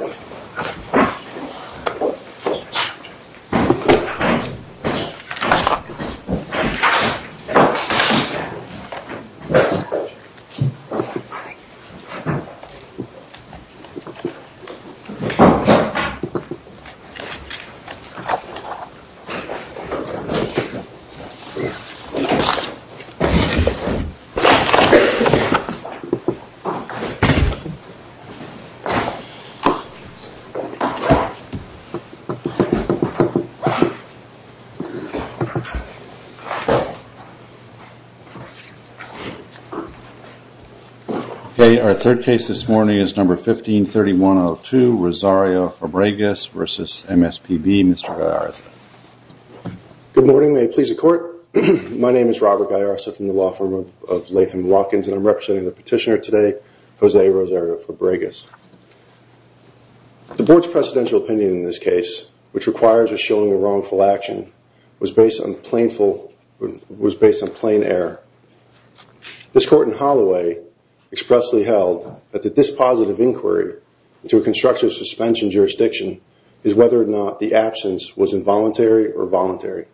MSWordDoc Word.Document.8 Our third case this morning is number 15-3102, Rosario-Fabregas v. MSPB, Mr. Gaiarsa. Good morning, may it please the court. My name is Robert Gaiarsa from the law firm of Latham Rockins and I'm representing the petitioner today, Jose Rosario-Fabregas. The board's precedential opinion in this case, which requires a showing of wrongful action, was based on plain error. This court in Holloway expressly held that the dispositive inquiry to a constructive suspension jurisdiction is whether or not the absence was involuntary or voluntary.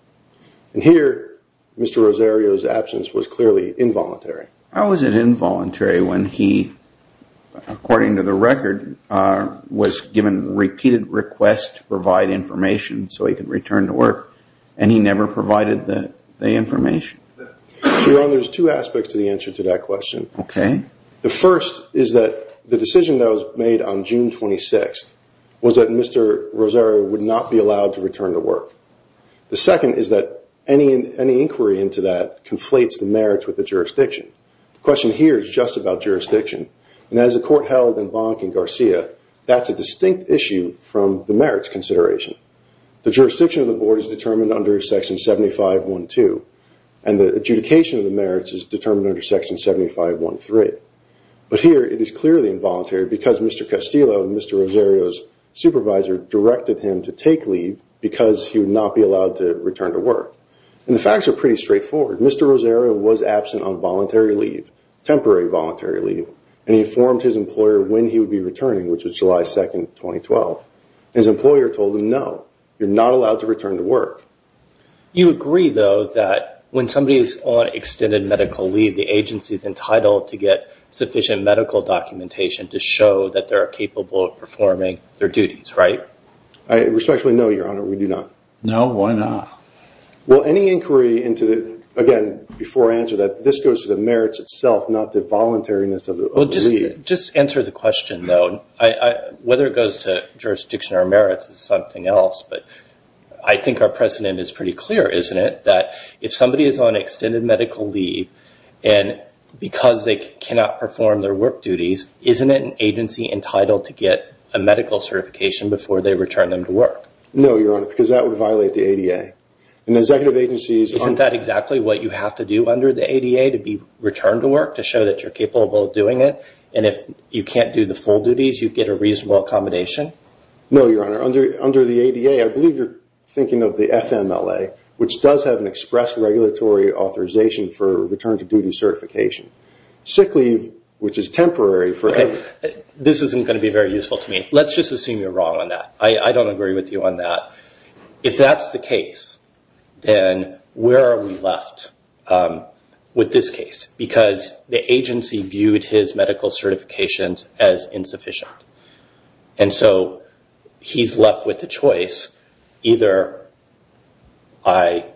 And here, Mr. Rosario's absence was clearly involuntary. How is it involuntary when he, according to the record, was given repeated requests to provide information so he could return to work and he never provided the information? Your Honor, there's two aspects to the answer to that question. Okay. The first is that the decision that was made on June 26th was that Mr. Rosario would not be allowed to return to work. The second is that any inquiry into that conflates the merits with the jurisdiction. The question here is just about jurisdiction. And as the court held in Bonnack and Garcia, that's a distinct issue from the merits consideration. The jurisdiction of the board is determined under section 75.1.2 and the adjudication of the merits is determined under section 75.1.3. But here, it is clearly involuntary because Mr. Castillo, Mr. Rosario's supervisor, directed him to take leave because he would not be allowed to return to work. And the facts are pretty straightforward. Mr. Rosario was absent on voluntary leave, temporary voluntary leave, and he informed his employer when he would be returning, which was July 2nd, 2012. His employer told him, no, you're not allowed to return to work. You agree, though, that when somebody is on extended medical leave, the agency is entitled to get sufficient medical documentation to show that they're capable of performing their duties, right? Respectfully, no, Your Honor, we do not. No? Why not? Well, any inquiry into the – again, before I answer that, this goes to the merits itself, not the voluntariness of the leave. Just answer the question, though. Whether it goes to jurisdiction or merits is something else, but I think our precedent is pretty clear, isn't it? That if somebody is on extended medical leave, and because they cannot perform their work duties, isn't an agency entitled to get a medical certification before they return them to work? No, Your Honor, because that would violate the ADA. And executive agencies – Isn't that exactly what you have to do under the ADA to be returned to work, to show that you're capable of doing it? And if you can't do the full duties, you get a reasonable accommodation? No, Your Honor, under the ADA, I believe you're thinking of the FMLA, which does have an express regulatory authorization for return to duty certification. Sick leave, which is temporary for – Okay, this isn't going to be very useful to me. Let's just assume you're wrong on that. I don't agree with you on that. If that's the case, then where are we left with this case? Because the agency viewed his medical certifications as insufficient, and so he's left with a choice. Either I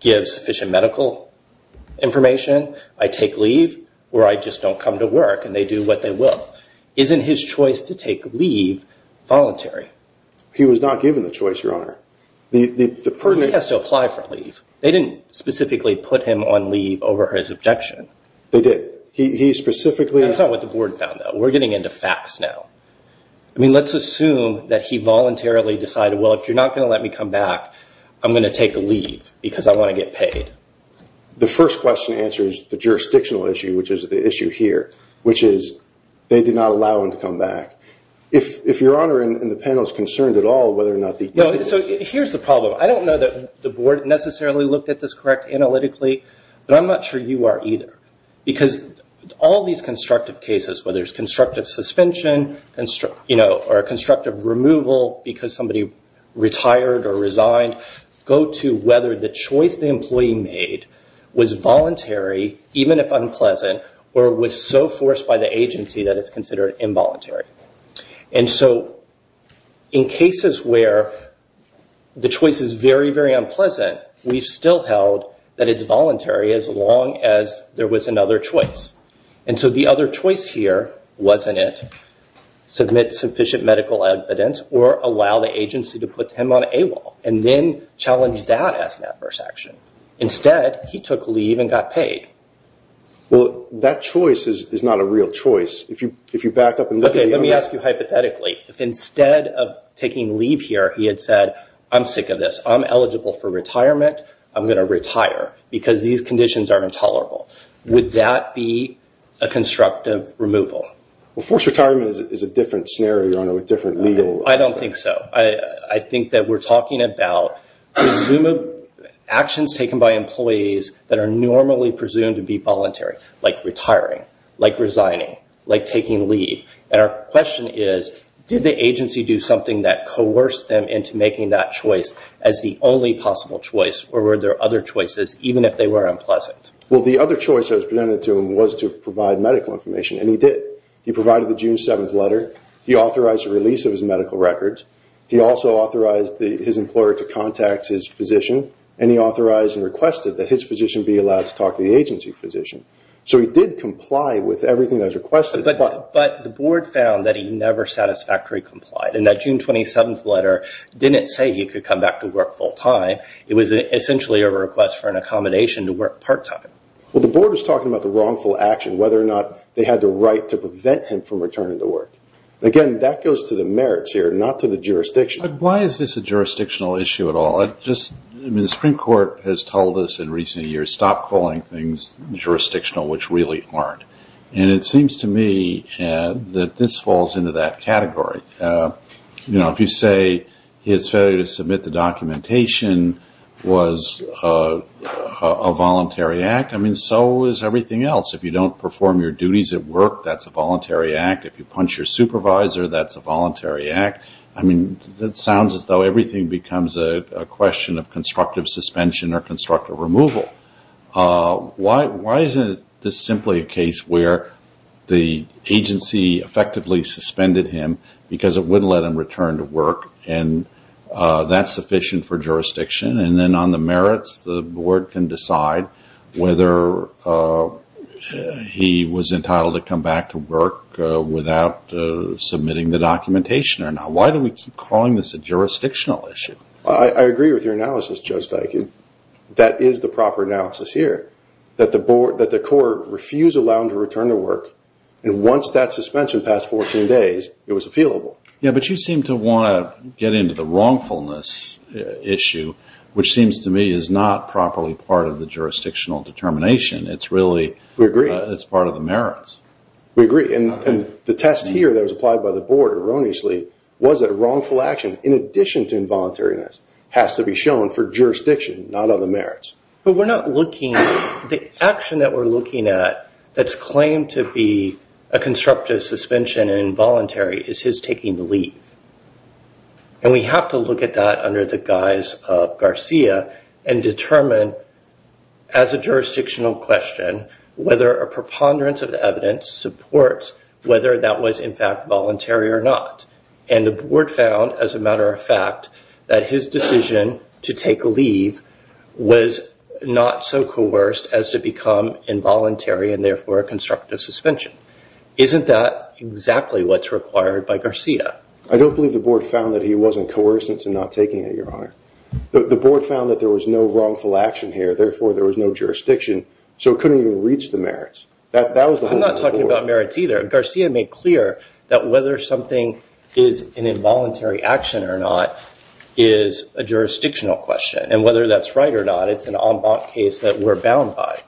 give sufficient medical information, I take leave, or I just don't come to work and they do what they will. Isn't his choice to take leave voluntary? He was not given the choice, Your Honor. He has to apply for leave. They didn't specifically put him on leave over his objection. They did. He specifically – That's not what the board found, though. We're getting into facts now. I mean, let's assume that he voluntarily decided, well, if you're not going to let me come back, I'm going to take leave because I want to get paid. The first question answers the jurisdictional issue, which is the issue here, which is they did not allow him to come back. If Your Honor and the panel is concerned at all whether or not the – Here's the problem. I don't know that the board necessarily looked at this correctly analytically, but I'm not sure you are either. Because all these constructive cases, whether it's constructive suspension or constructive removal because somebody retired or resigned, go to whether the choice the employee made was voluntary, even if unpleasant, or was so forced by the agency that it's considered involuntary. And so in cases where the choice is very, very unpleasant, we've still held that it's voluntary as long as there was another choice. And so the other choice here wasn't it, submit sufficient medical evidence or allow the agency to put him on AWOL. And then challenge that as an adverse action. Instead, he took leave and got paid. Well, that choice is not a real choice. If you back up and look at the – Okay, let me ask you hypothetically. If instead of taking leave here, he had said, I'm sick of this, I'm eligible for retirement, I'm going to retire because these conditions are intolerable. Would that be a constructive removal? Well, forced retirement is a different scenario, Your Honor, with different legal – I don't think so. I think that we're talking about actions taken by employees that are normally presumed to be voluntary, like retiring, like resigning, like taking leave. And our question is, did the agency do something that coerced them into making that choice as the only possible choice, or were there other choices, even if they were unpleasant? Well, the other choice that was presented to him was to provide medical information, and he did. He provided the June 7th letter. He authorized the release of his medical records. He also authorized his employer to contact his physician, and he authorized and requested that his physician be allowed to talk to the agency physician. So he did comply with everything that was requested. But the board found that he never satisfactorily complied, and that June 27th letter didn't say he could come back to work full-time. It was essentially a request for an accommodation to work part-time. Well, the board was talking about the wrongful action, whether or not they had the right to prevent him from returning to work. Again, that goes to the merits here, not to the jurisdiction. But why is this a jurisdictional issue at all? I mean, the Supreme Court has told us in recent years, stop calling things jurisdictional, which really aren't. And it seems to me that this falls into that category. You know, if you say his failure to submit the documentation was a voluntary act, I mean, so is everything else. If you don't perform your duties at work, that's a voluntary act. If you punch your supervisor, that's a voluntary act. I mean, it sounds as though everything becomes a question of constructive suspension or constructive removal. Why isn't this simply a case where the agency effectively suspended him because it wouldn't let him return to work, and that's sufficient for jurisdiction? And then on the merits, the board can decide whether he was entitled to come back to work without submitting the documentation or not. Why do we keep calling this a jurisdictional issue? I agree with your analysis, Judge Dykin. That is the proper analysis here, that the court refused to allow him to return to work. And once that suspension passed 14 days, it was appealable. Yeah, but you seem to want to get into the wrongfulness issue, which seems to me is not properly part of the jurisdictional determination. It's really part of the merits. We agree. And the test here that was applied by the board erroneously was that wrongful action, in addition to involuntariness, has to be shown for jurisdiction, not on the merits. But we're not looking – the action that we're looking at that's claimed to be a constructive suspension and involuntary is his taking the leave. And we have to look at that under the guise of Garcia and determine, as a jurisdictional question, whether a preponderance of the evidence supports whether that was in fact voluntary or not. And the board found, as a matter of fact, that his decision to take leave was not so coerced as to become involuntary and therefore a constructive suspension. Isn't that exactly what's required by Garcia? I don't believe the board found that he wasn't coerced into not taking it, Your Honor. The board found that there was no wrongful action here, therefore there was no jurisdiction, so it couldn't even reach the merits. I'm not talking about merits either. Garcia made clear that whether something is an involuntary action or not is a jurisdictional question. And whether that's right or not, it's an en banc case that we're bound by.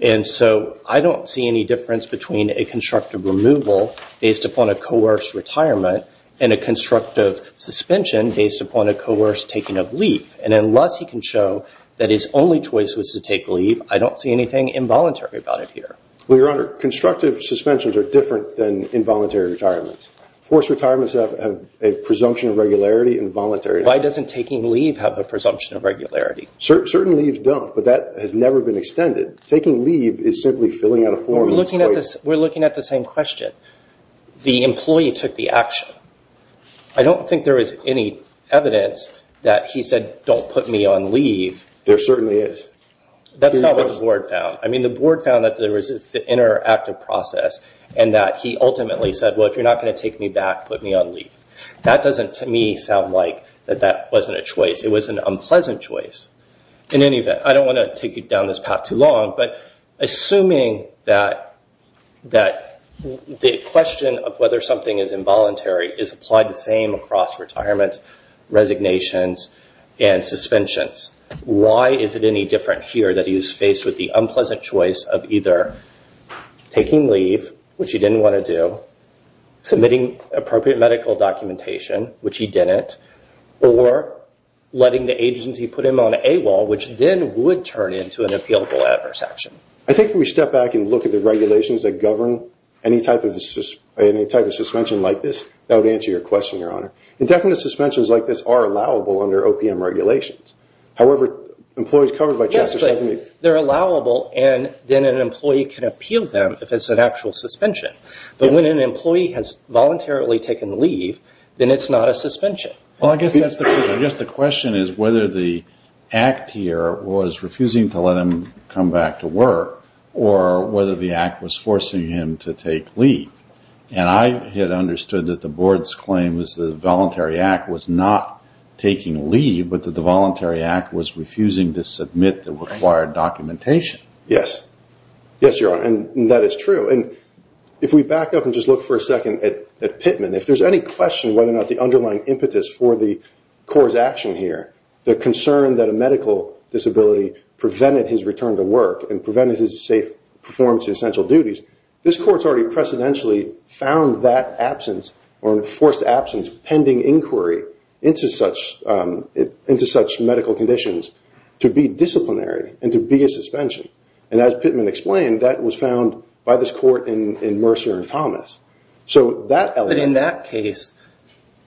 And so I don't see any difference between a constructive removal based upon a coerced retirement and a constructive suspension based upon a coerced taking of leave. And unless he can show that his only choice was to take leave, I don't see anything involuntary about it here. Well, Your Honor, constructive suspensions are different than involuntary retirements. Forced retirements have a presumption of regularity and voluntary. Why doesn't taking leave have a presumption of regularity? Certain leaves don't, but that has never been extended. Taking leave is simply filling out a form. We're looking at the same question. The employee took the action. I don't think there is any evidence that he said, don't put me on leave. There certainly is. That's not what the board found. I mean, the board found that there was this interactive process and that he ultimately said, well, if you're not going to take me back, put me on leave. That doesn't, to me, sound like that that wasn't a choice. It was an unpleasant choice. In any event, I don't want to take you down this path too long, but assuming that the question of whether something is involuntary is applied the same across retirements, resignations, and suspensions, why is it any different here that he was faced with the unpleasant choice of either taking leave, which he didn't want to do, submitting appropriate medical documentation, which he didn't, or letting the agency put him on AWOL, which then would turn into an appealable adverse action? I think if we step back and look at the regulations that govern any type of suspension like this, that would answer your question, Your Honor. Indefinite suspensions like this are allowable under OPM regulations. However, employees covered by Chapter 7… Yes, but they're allowable, and then an employee can appeal them if it's an actual suspension. But when an employee has voluntarily taken leave, then it's not a suspension. Well, I guess the question is whether the act here was refusing to let him come back to work or whether the act was forcing him to take leave. And I had understood that the Board's claim was that the Voluntary Act was not taking leave, but that the Voluntary Act was refusing to submit the required documentation. Yes. Yes, Your Honor, and that is true. And if we back up and just look for a second at Pittman, if there's any question whether or not the underlying impetus for the Court's action here, the concern that a medical disability prevented his return to work and prevented his safe performance in essential duties, this Court's already precedentially found that absence or enforced absence pending inquiry into such medical conditions to be disciplinary and to be a suspension. And as Pittman explained, that was found by this Court in Mercer and Thomas. But in that case,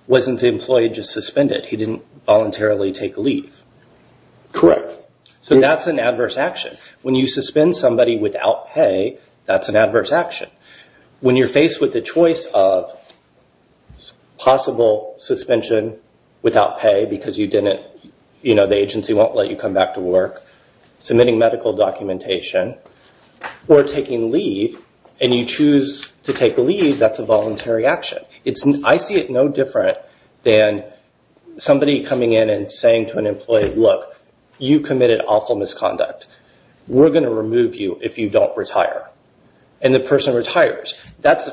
wasn't the employee just suspended? He didn't voluntarily take leave. Correct. So that's an adverse action. When you suspend somebody without pay, that's an adverse action. When you're faced with the choice of possible suspension without pay because the agency won't let you come back to work, submitting medical documentation, or taking leave, and you choose to take leave, that's a voluntary action. I see it no different than somebody coming in and saying to an employee, look, you committed awful misconduct. We're going to remove you if you don't retire. And the person retires. That's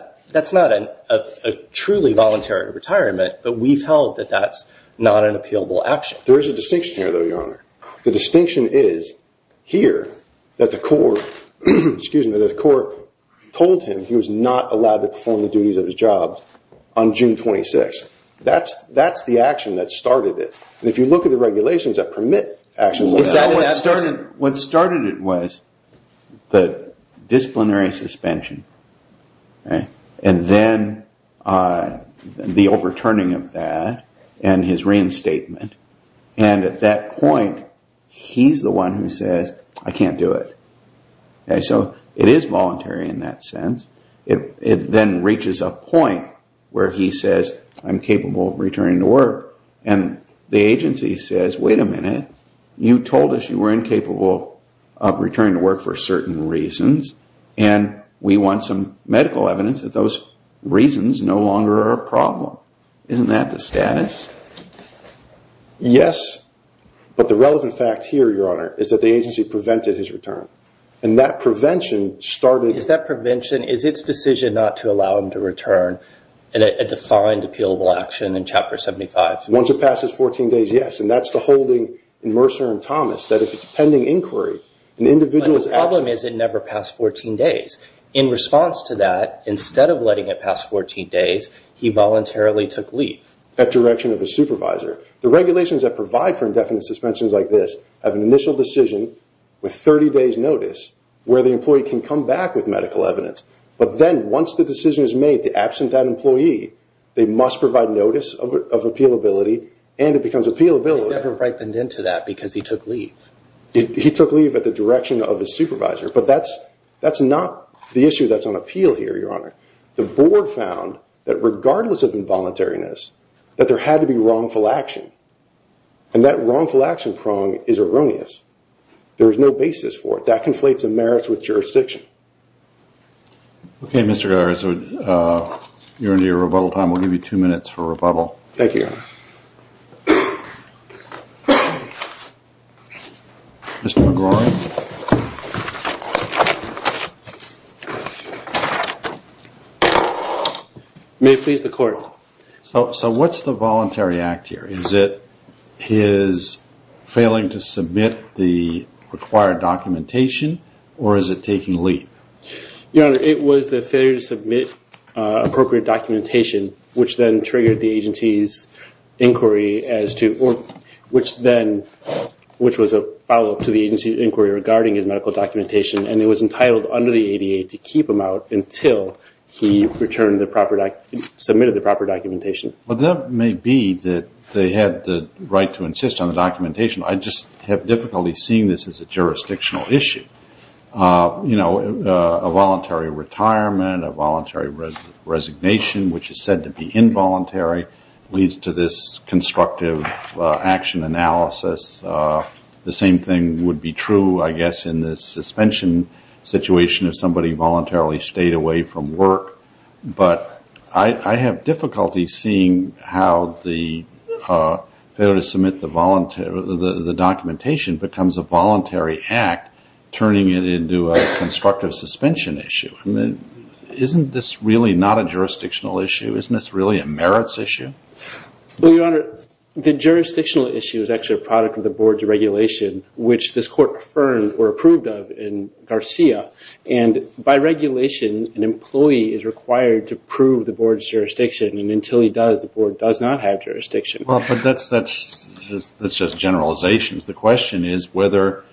not a truly voluntary retirement, but we've held that that's not an appealable action. There is a distinction here, though, Your Honor. The distinction is here that the Court told him he was not allowed to perform the duties of his job on June 26. That's the action that started it. And if you look at the regulations that permit actions like that. What started it was the disciplinary suspension and then the overturning of that and his reinstatement. And at that point, he's the one who says, I can't do it. So it is voluntary in that sense. It then reaches a point where he says, I'm capable of returning to work. And the agency says, wait a minute. You told us you were incapable of returning to work for certain reasons. And we want some medical evidence that those reasons no longer are a problem. Isn't that the status? Yes, but the relevant fact here, Your Honor, is that the agency prevented his return. Is that prevention? Is its decision not to allow him to return a defined appealable action in Chapter 75? Once it passes 14 days, yes. And that's the holding in Mercer and Thomas. But the problem is it never passed 14 days. In response to that, instead of letting it pass 14 days, he voluntarily took leave. The regulations that provide for indefinite suspensions like this have an initial decision with 30 days' notice where the employee can come back with medical evidence. But then, once the decision is made, absent that employee, they must provide notice of appealability and it becomes appealable. He never brightened into that because he took leave. He took leave at the direction of his supervisor. But that's not the issue that's on appeal here, Your Honor. The board found that regardless of involuntariness, that there had to be wrongful action. And that wrongful action prong is erroneous. There is no basis for it. That conflates the merits with jurisdiction. Okay, Mr. Guerra. You're into your rebuttal time. We'll give you two minutes for rebuttal. Thank you, Your Honor. Mr. McGraw. May it please the Court. So what's the voluntary act here? Is it his failing to submit the required documentation or is it taking leave? Your Honor, it was the failure to submit appropriate documentation which then triggered the agency's inquiry as to which then, which was a follow-up to the agency's inquiry regarding his medical documentation and it was entitled under the ADA to keep him out until he returned the proper, submitted the proper documentation. Well, that may be that they had the right to insist on the documentation. I just have difficulty seeing this as a jurisdictional issue. You know, a voluntary retirement, a voluntary resignation, which is said to be involuntary, leads to this constructive action analysis. The same thing would be true, I guess, in the suspension situation if somebody voluntarily stayed away from work. But I have difficulty seeing how the failure to submit the documentation becomes a voluntary act, turning it into a constructive suspension issue. I mean, isn't this really not a jurisdictional issue? Isn't this really a merits issue? Well, Your Honor, the jurisdictional issue is actually a product of the Board's regulation, which this Court confirmed or approved of in Garcia. And by regulation, an employee is required to prove the Board's jurisdiction. And until he does, the Board does not have jurisdiction. Well, but that's just generalizations. The question is whether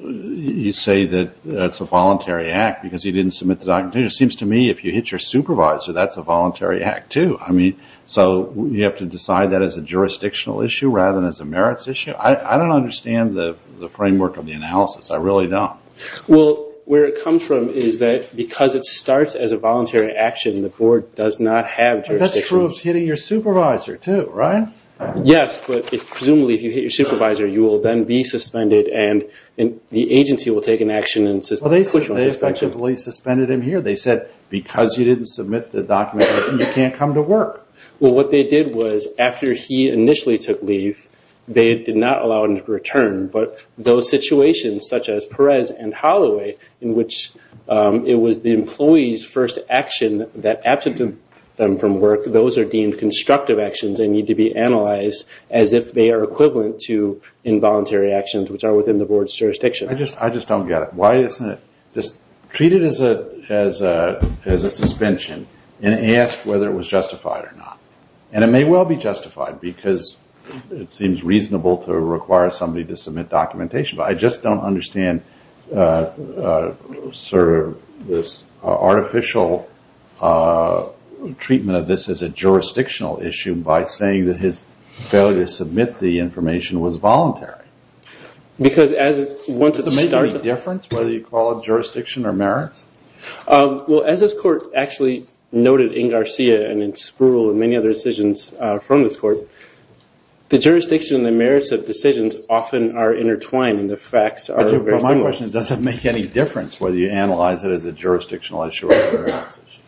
you say that it's a voluntary act because he didn't submit the documentation. It seems to me if you hit your supervisor, that's a voluntary act, too. I mean, so you have to decide that as a jurisdictional issue rather than as a merits issue? I don't understand the framework of the analysis. I really don't. Well, where it comes from is that because it starts as a voluntary action, the Board does not have jurisdiction. But that's true of hitting your supervisor, too, right? Yes, but presumably if you hit your supervisor, you will then be suspended and the agency will take an action. Well, they effectively suspended him here. They said because you didn't submit the document, you can't come to work. Well, what they did was after he initially took leave, they did not allow him to return. But those situations, such as Perez and Holloway, in which it was the employee's first action that absent them from work, those are deemed constructive actions and need to be analyzed as if they are equivalent to involuntary actions, which are within the Board's jurisdiction. I just don't get it. Why isn't it just treated as a suspension and asked whether it was justified or not? And it may well be justified because it seems reasonable to require somebody to submit documentation. But I just don't understand sort of this artificial treatment of this as a jurisdictional issue by saying that his failure to submit the information was voluntary. Because once it's submitted… Does it make a difference whether you call it jurisdiction or merits? Well, as this Court actually noted in Garcia and in Spruill and many other decisions from this Court, the jurisdiction and the merits of decisions often are intertwined and the facts are very similar. My question is, does it make any difference whether you analyze it as a jurisdictional issue or a merits issue?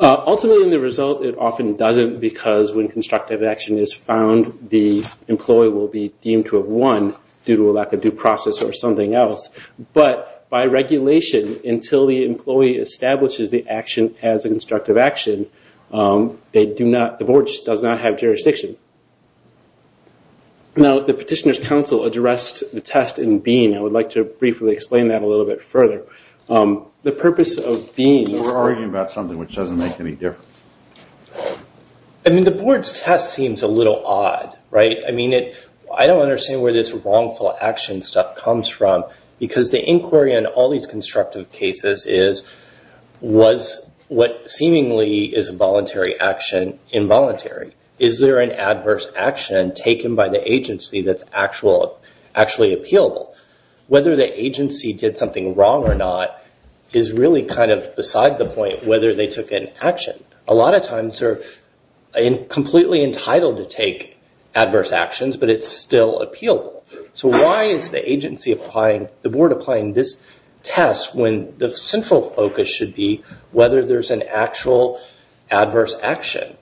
Ultimately, in the result, it often doesn't because when constructive action is found, the employee will be deemed to have won due to a lack of due process or something else. But by regulation, until the employee establishes the action as a constructive action, the Board just does not have jurisdiction. Now, the Petitioner's Council addressed the test in Bean. I would like to briefly explain that a little bit further. The purpose of Bean… We're arguing about something which doesn't make any difference. I mean, the Board's test seems a little odd, right? I mean, I don't understand where this wrongful action stuff comes from. Because the inquiry in all these constructive cases is, was what seemingly is a voluntary action involuntary? Is there an adverse action taken by the agency that's actually appealable? Whether the agency did something wrong or not is really kind of beside the point whether they took an action. A lot of times, they're completely entitled to take adverse actions, but it's still appealable. So why is the agency applying, the Board applying this test when the central focus should be whether there's an actual adverse action?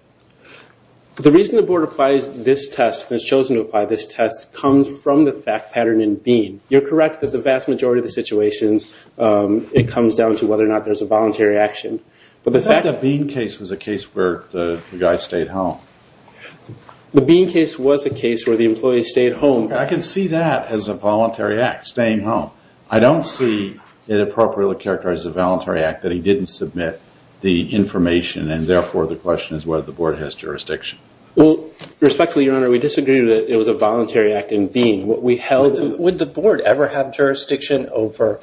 The reason the Board applies this test and has chosen to apply this test comes from the fact pattern in Bean. You're correct that the vast majority of the situations, it comes down to whether or not there's a voluntary action. But the fact that Bean case was a case where the guy stayed home. The Bean case was a case where the employee stayed home. I can see that as a voluntary act, staying home. I don't see it appropriately characterized as a voluntary act that he didn't submit the information, and therefore, the question is whether the Board has jurisdiction. Well, respectfully, Your Honor, we disagree that it was a voluntary act in Bean. Would the Board ever have jurisdiction over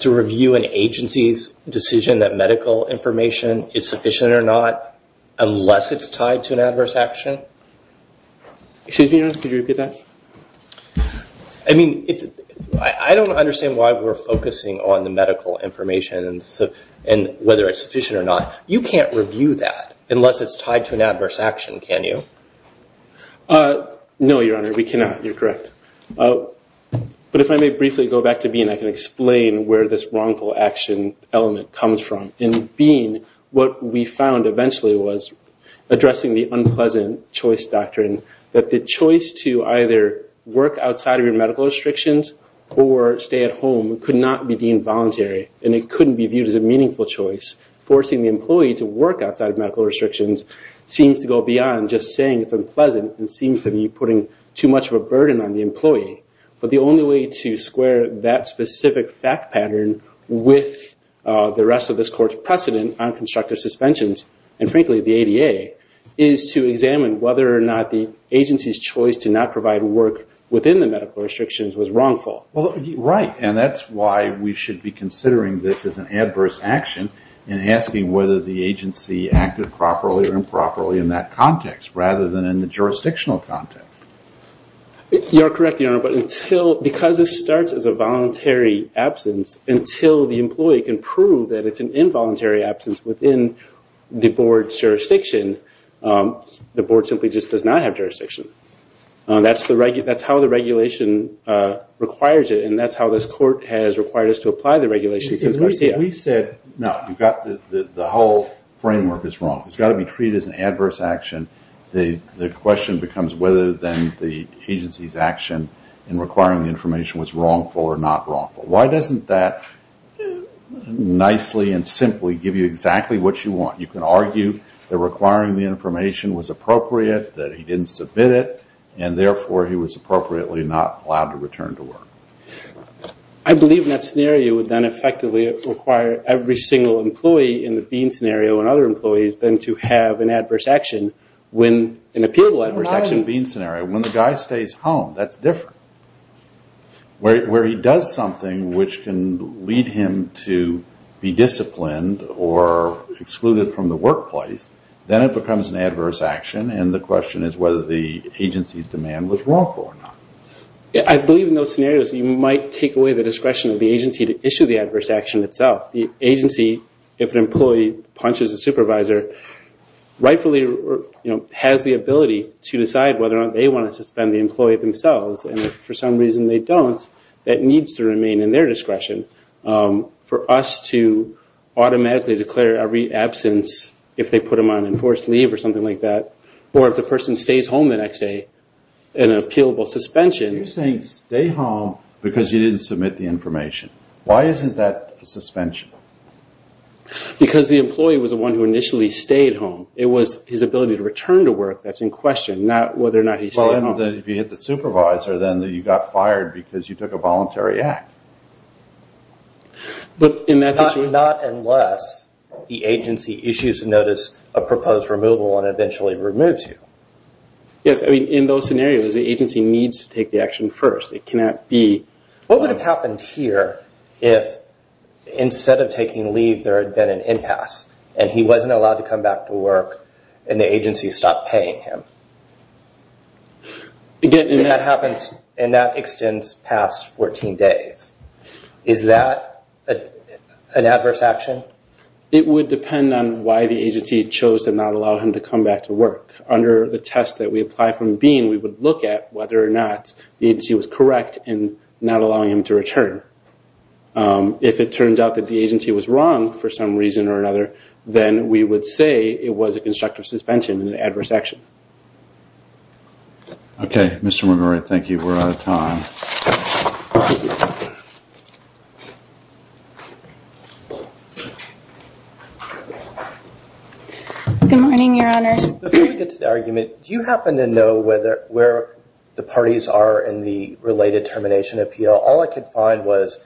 to review an agency's decision that medical information is sufficient or not, unless it's tied to an adverse action? Excuse me, Your Honor, could you repeat that? I mean, I don't understand why we're focusing on the medical information and whether it's sufficient or not. You can't review that unless it's tied to an adverse action, can you? No, Your Honor, we cannot. You're correct. But if I may briefly go back to Bean, I can explain where this wrongful action element comes from. In Bean, what we found eventually was, addressing the unpleasant choice doctrine, that the choice to either work outside of your medical restrictions or stay at home could not be deemed voluntary, and it couldn't be viewed as a meaningful choice. Forcing the employee to work outside of medical restrictions seems to go beyond just saying it's unpleasant. It seems to be putting too much of a burden on the employee. But the only way to square that specific fact pattern with the rest of this Court's precedent on constructive suspensions, and frankly the ADA, is to examine whether or not the agency's choice to not provide work within the medical restrictions was wrongful. Right, and that's why we should be considering this as an adverse action and asking whether the agency acted properly or improperly in that context, rather than in the jurisdictional context. You're correct, Your Honor, but because this starts as a voluntary absence, until the employee can prove that it's an involuntary absence within the Board's jurisdiction, the Board simply just does not have jurisdiction. That's how the regulation requires it, and that's how this Court has required us to apply the regulation since Garcia. We said, no, the whole framework is wrong. It's got to be treated as an adverse action. The question becomes whether then the agency's action in requiring the information was wrongful or not wrongful. Why doesn't that nicely and simply give you exactly what you want? You can argue that requiring the information was appropriate, that he didn't submit it, and therefore he was appropriately not allowed to return to work. I believe in that scenario it would then effectively require every single employee in the Bean scenario and other employees then to have an adverse action when an appealable adverse action. It's not the Bean scenario. When the guy stays home, that's different. Where he does something which can lead him to be disciplined or excluded from the workplace, then it becomes an adverse action, and the question is whether the agency's demand was wrongful or not. I believe in those scenarios you might take away the discretion of the agency to issue the adverse action itself. The agency, if an employee punches a supervisor, rightfully has the ability to decide whether or not they want to suspend the employee themselves, and if for some reason they don't, that needs to remain in their discretion for us to automatically declare every absence if they put him on enforced leave or something like that, or if the person stays home the next day in an appealable suspension. You're saying stay home because you didn't submit the information. Why isn't that a suspension? Because the employee was the one who initially stayed home. It was his ability to return to work that's in question, not whether or not he stayed home. If you hit the supervisor, then you got fired because you took a voluntary act. Not unless the agency issues a notice of proposed removal and eventually removes you. In those scenarios, the agency needs to take the action first. What would have happened here if, instead of taking leave, there had been an impasse, and he wasn't allowed to come back to work, and the agency stopped paying him? That extends past 14 days. Is that an adverse action? It would depend on why the agency chose to not allow him to come back to work. Under the test that we apply from BEAN, we would look at whether or not the agency was correct in not allowing him to return. If it turns out that the agency was wrong for some reason or another, then we would say it was a constructive suspension and an adverse action. Okay. Mr. McGurk, thank you. We're out of time. Good morning, Your Honor. Before we get to the argument, do you happen to know where the parties are in the related termination appeal? All I could find was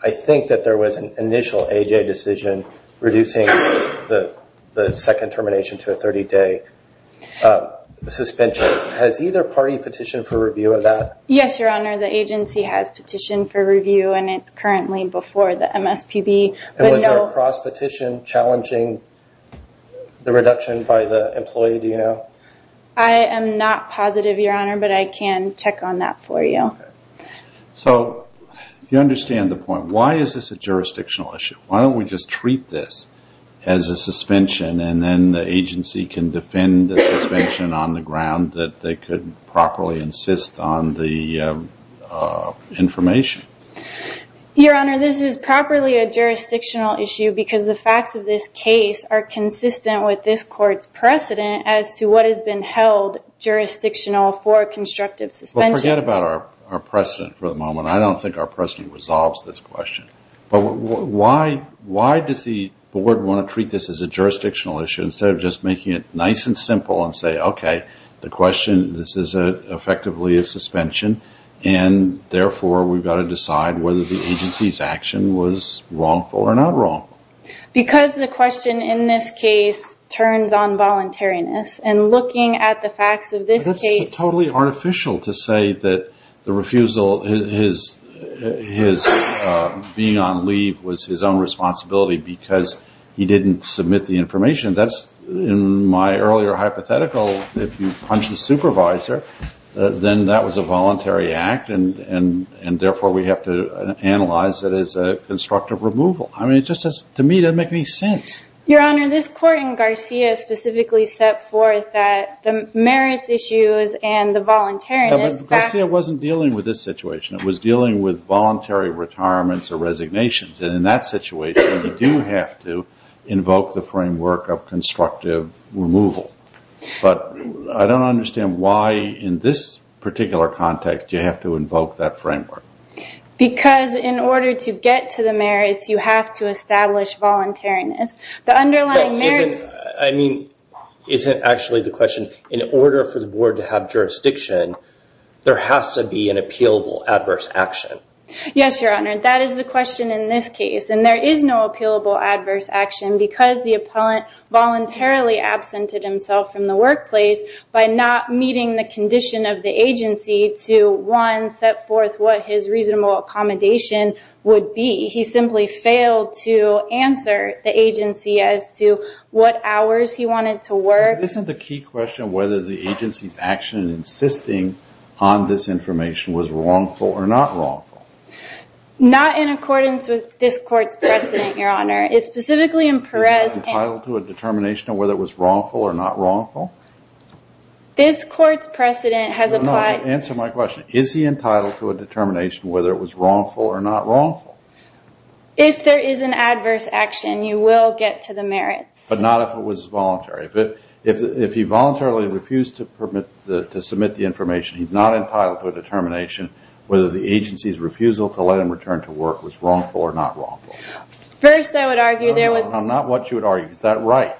I think that there was an initial AJ decision reducing the second termination to a 30-day suspension. Has either party petitioned for review of that? Yes, Your Honor. The agency has petitioned for review, and it's currently before the MSPB. Was there a cross-petition challenging the reduction by the employee, do you know? I am not positive, Your Honor, but I can check on that for you. If you understand the point, why is this a jurisdictional issue? Why don't we just treat this as a suspension, and then the agency can defend the suspension on the ground that they could properly insist on the information? Your Honor, this is properly a jurisdictional issue because the facts of this case are consistent with this court's precedent as to what has been held jurisdictional for constructive suspension. Well, forget about our precedent for the moment. I don't think our precedent resolves this question. Why does the board want to treat this as a jurisdictional issue instead of just making it nice and simple and say, okay, the question, this is effectively a suspension, and therefore we've got to decide whether the agency's action was wrongful or not wrong? Because the question in this case turns on voluntariness, and looking at the facts of this case... It's totally artificial to say that the refusal, his being on leave was his own responsibility because he didn't submit the information. In my earlier hypothetical, if you punch the supervisor, then that was a voluntary act, and therefore we have to analyze it as a constructive removal. I mean, to me, it doesn't make any sense. Your Honor, this court in Garcia specifically set forth that the merits issues and the voluntariness... Garcia wasn't dealing with this situation. It was dealing with voluntary retirements or resignations, and in that situation, you do have to invoke the framework of constructive removal. But I don't understand why in this particular context you have to invoke that framework. Because in order to get to the merits, you have to establish voluntariness. The underlying merits... I mean, is it actually the question, in order for the board to have jurisdiction, there has to be an appealable adverse action? Yes, Your Honor, that is the question in this case, and there is no appealable adverse action because the appellant voluntarily absented himself from the workplace by not meeting the condition of the agency to, one, set forth what his reasonable accommodation would be. He simply failed to answer the agency as to what hours he wanted to work. Isn't the key question whether the agency's action in insisting on this information was wrongful or not wrongful? Not in accordance with this court's precedent, Your Honor. It's specifically in Perez... Is he entitled to a determination of whether it was wrongful or not wrongful? This court's precedent has applied... No, no, answer my question. Is he entitled to a determination whether it was wrongful or not wrongful? If there is an adverse action, you will get to the merits. But not if it was voluntary. If he voluntarily refused to submit the information, he's not entitled to a determination whether the agency's refusal to let him return to work was wrongful or not wrongful. First, I would argue there was... Well, not what you would argue. Is that right?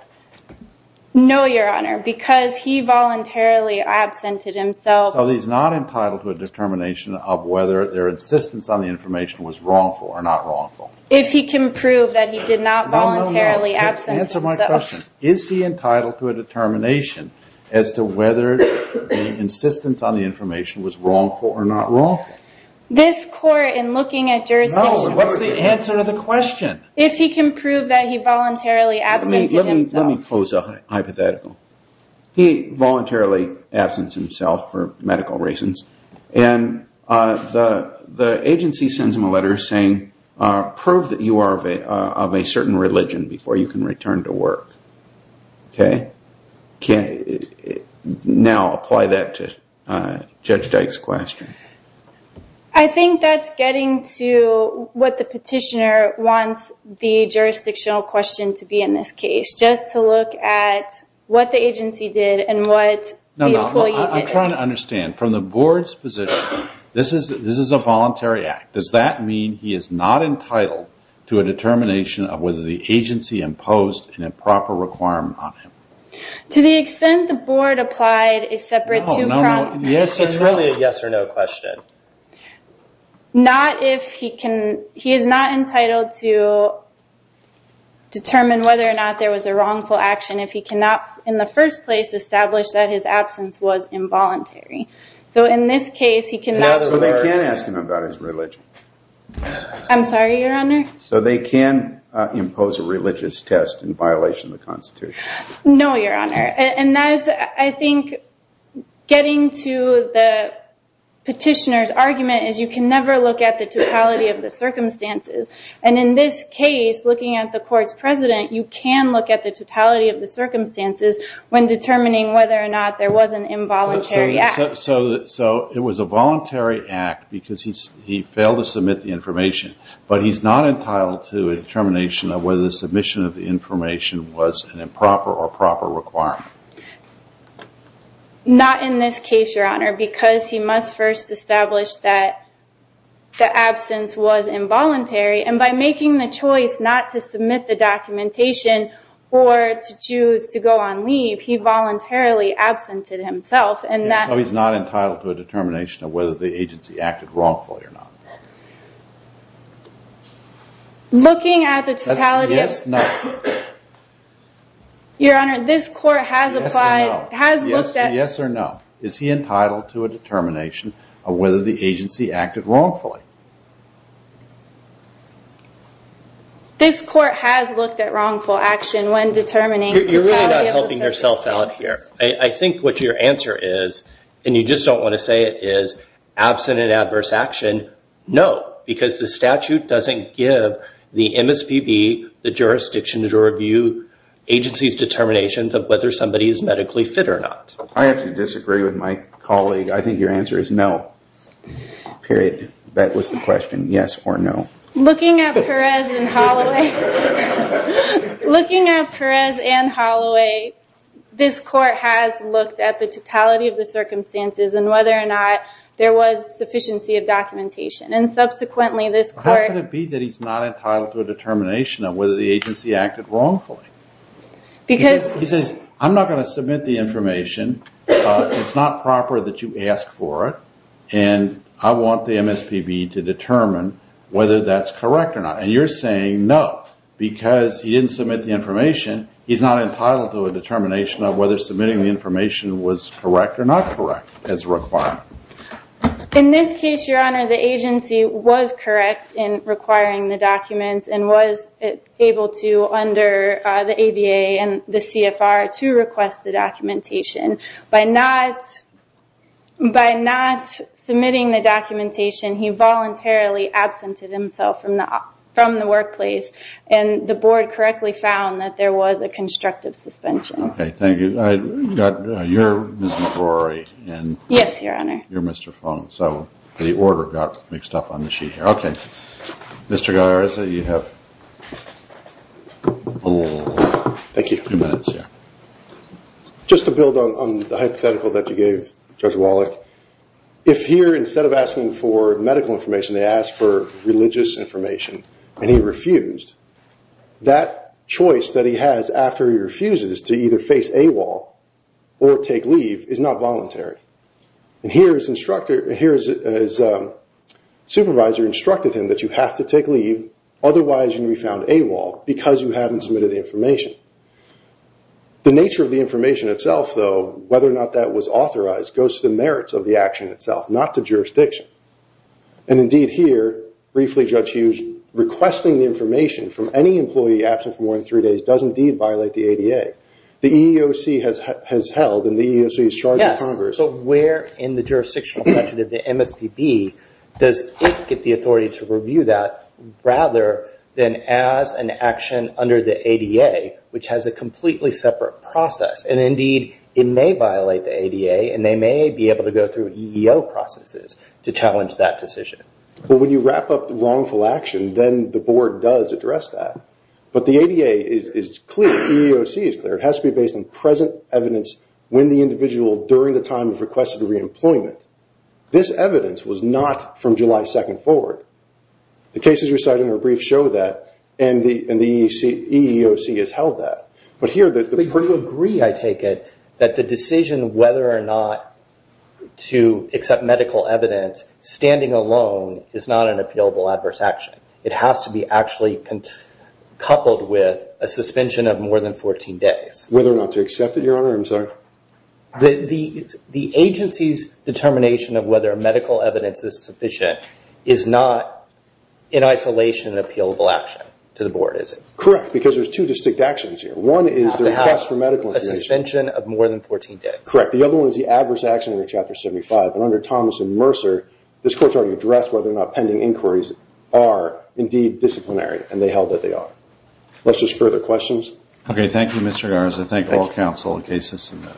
No, Your Honor, because he voluntarily absented himself... So he's not entitled to a determination of whether their insistence on the information was wrongful or not wrongful? If he can prove that he did not voluntarily absent himself... No, no, no, answer my question. Is he entitled to a determination as to whether the insistence on the information was wrongful or not wrongful? This court, in looking at jurisdiction... No, what's the answer to the question? If he can prove that he voluntarily absented himself... Let me pose a hypothetical. He voluntarily absents himself for medical reasons, and the agency sends him a letter saying, prove that you are of a certain religion before you can return to work. Okay? Now, apply that to Judge Dyke's question. I think that's getting to what the petitioner wants the jurisdictional question to be in this case, just to look at what the agency did and what the employee did. No, no, I'm trying to understand. From the board's position, this is a voluntary act. Does that mean he is not entitled to a determination of whether the agency imposed an improper requirement on him? To the extent the board applied a separate two-prong... It's really a yes-or-no question. Not if he can... He is not entitled to determine whether or not there was a wrongful action if he cannot, in the first place, establish that his absence was involuntary. So in this case, he cannot... So they can ask him about his religion. I'm sorry, Your Honor? So they can impose a religious test in violation of the Constitution. No, Your Honor. And that is, I think, getting to the petitioner's argument is you can never look at the totality of the circumstances. And in this case, looking at the court's president, you can look at the totality of the circumstances when determining whether or not there was an involuntary act. So it was a voluntary act because he failed to submit the information, but he's not entitled to a determination of whether the submission of the information was an improper or proper requirement. Not in this case, Your Honor, because he must first establish that the absence was involuntary. And by making the choice not to submit the documentation or to choose to go on leave, he voluntarily absented himself. So he's not entitled to a determination of whether the agency acted wrongfully or not. Looking at the totality of... Yes or no. Your Honor, this court has applied... Yes or no. Has looked at... Yes or no. Is he entitled to a determination of whether the agency acted wrongfully? This court has looked at wrongful action when determining... You're really not helping yourself out here. I think what your answer is, and you just don't want to say it, is absent in adverse action, no, because the statute doesn't give the MSPB, the jurisdiction to review agency's determinations of whether somebody is medically fit or not. I have to disagree with my colleague. I think your answer is no, period. That was the question, yes or no. Looking at Perez and Holloway... Looking at Perez and Holloway, this court has looked at the totality of the circumstances and whether or not there was sufficiency of documentation. And subsequently, this court... How can it be that he's not entitled to a determination of whether the agency acted wrongfully? Because... He says, I'm not going to submit the information. It's not proper that you ask for it, and I want the MSPB to determine whether that's correct or not. And you're saying no, because he didn't submit the information. He's not entitled to a determination of whether submitting the information was correct or not correct, as required. In this case, Your Honor, the agency was correct in requiring the documents and was able to, under the ADA and the CFR, to request the documentation. By not submitting the documentation, he voluntarily absented himself from the workplace, and the board correctly found that there was a constructive suspension. Okay, thank you. You're Ms. McGrory, and... Yes, Your Honor. You're Mr. Fung, so the order got mixed up on the sheet here. Okay. Mr. Galarza, you have a little... Thank you. ...few minutes here. Just to build on the hypothetical that you gave, Judge Wallach, if here, instead of asking for medical information, they asked for religious information, and he refused, that choice that he has after he refuses to either face AWOL or take leave is not voluntary. And here, his supervisor instructed him that you have to take leave, otherwise you're going to be found AWOL because you haven't submitted the information. The nature of the information itself, though, whether or not that was authorized, goes to the merits of the action itself, not to jurisdiction. And indeed, here, briefly, Judge Hughes, requesting the information from any employee absent for more than three days does indeed violate the ADA. The EEOC has held, and the EEOC is charging Congress... Yes, but where in the jurisdictional section of the MSPB does it get the authority to review that rather than as an action under the ADA, which has a completely separate process? And indeed, it may violate the ADA, and they may be able to go through EEO processes to challenge that decision. Well, when you wrap up the wrongful action, then the board does address that. But the ADA is clear, the EEOC is clear. It has to be based on present evidence when the individual, during the time of requested reemployment. This evidence was not from July 2nd forward. The cases you're citing are brief, show that, and the EEOC has held that. But here, the... But you agree, I take it, that the decision whether or not to accept medical evidence, standing alone, is not an appealable adverse action. It has to be actually coupled with a suspension of more than 14 days. Whether or not to accept it, Your Honor, I'm sorry? The agency's determination of whether medical evidence is sufficient is not, in isolation, an appealable action to the board, is it? Correct, because there's two distinct actions here. One is the request for medical information. Suspension of more than 14 days. Correct. The other one is the adverse action under Chapter 75. And under Thomas and Mercer, this Court's already addressed whether or not pending inquiries are indeed disciplinary, and they held that they are. Unless there's further questions? Okay, thank you, Mr. Garza. Thank you. Thank all counsel. The case is submitted.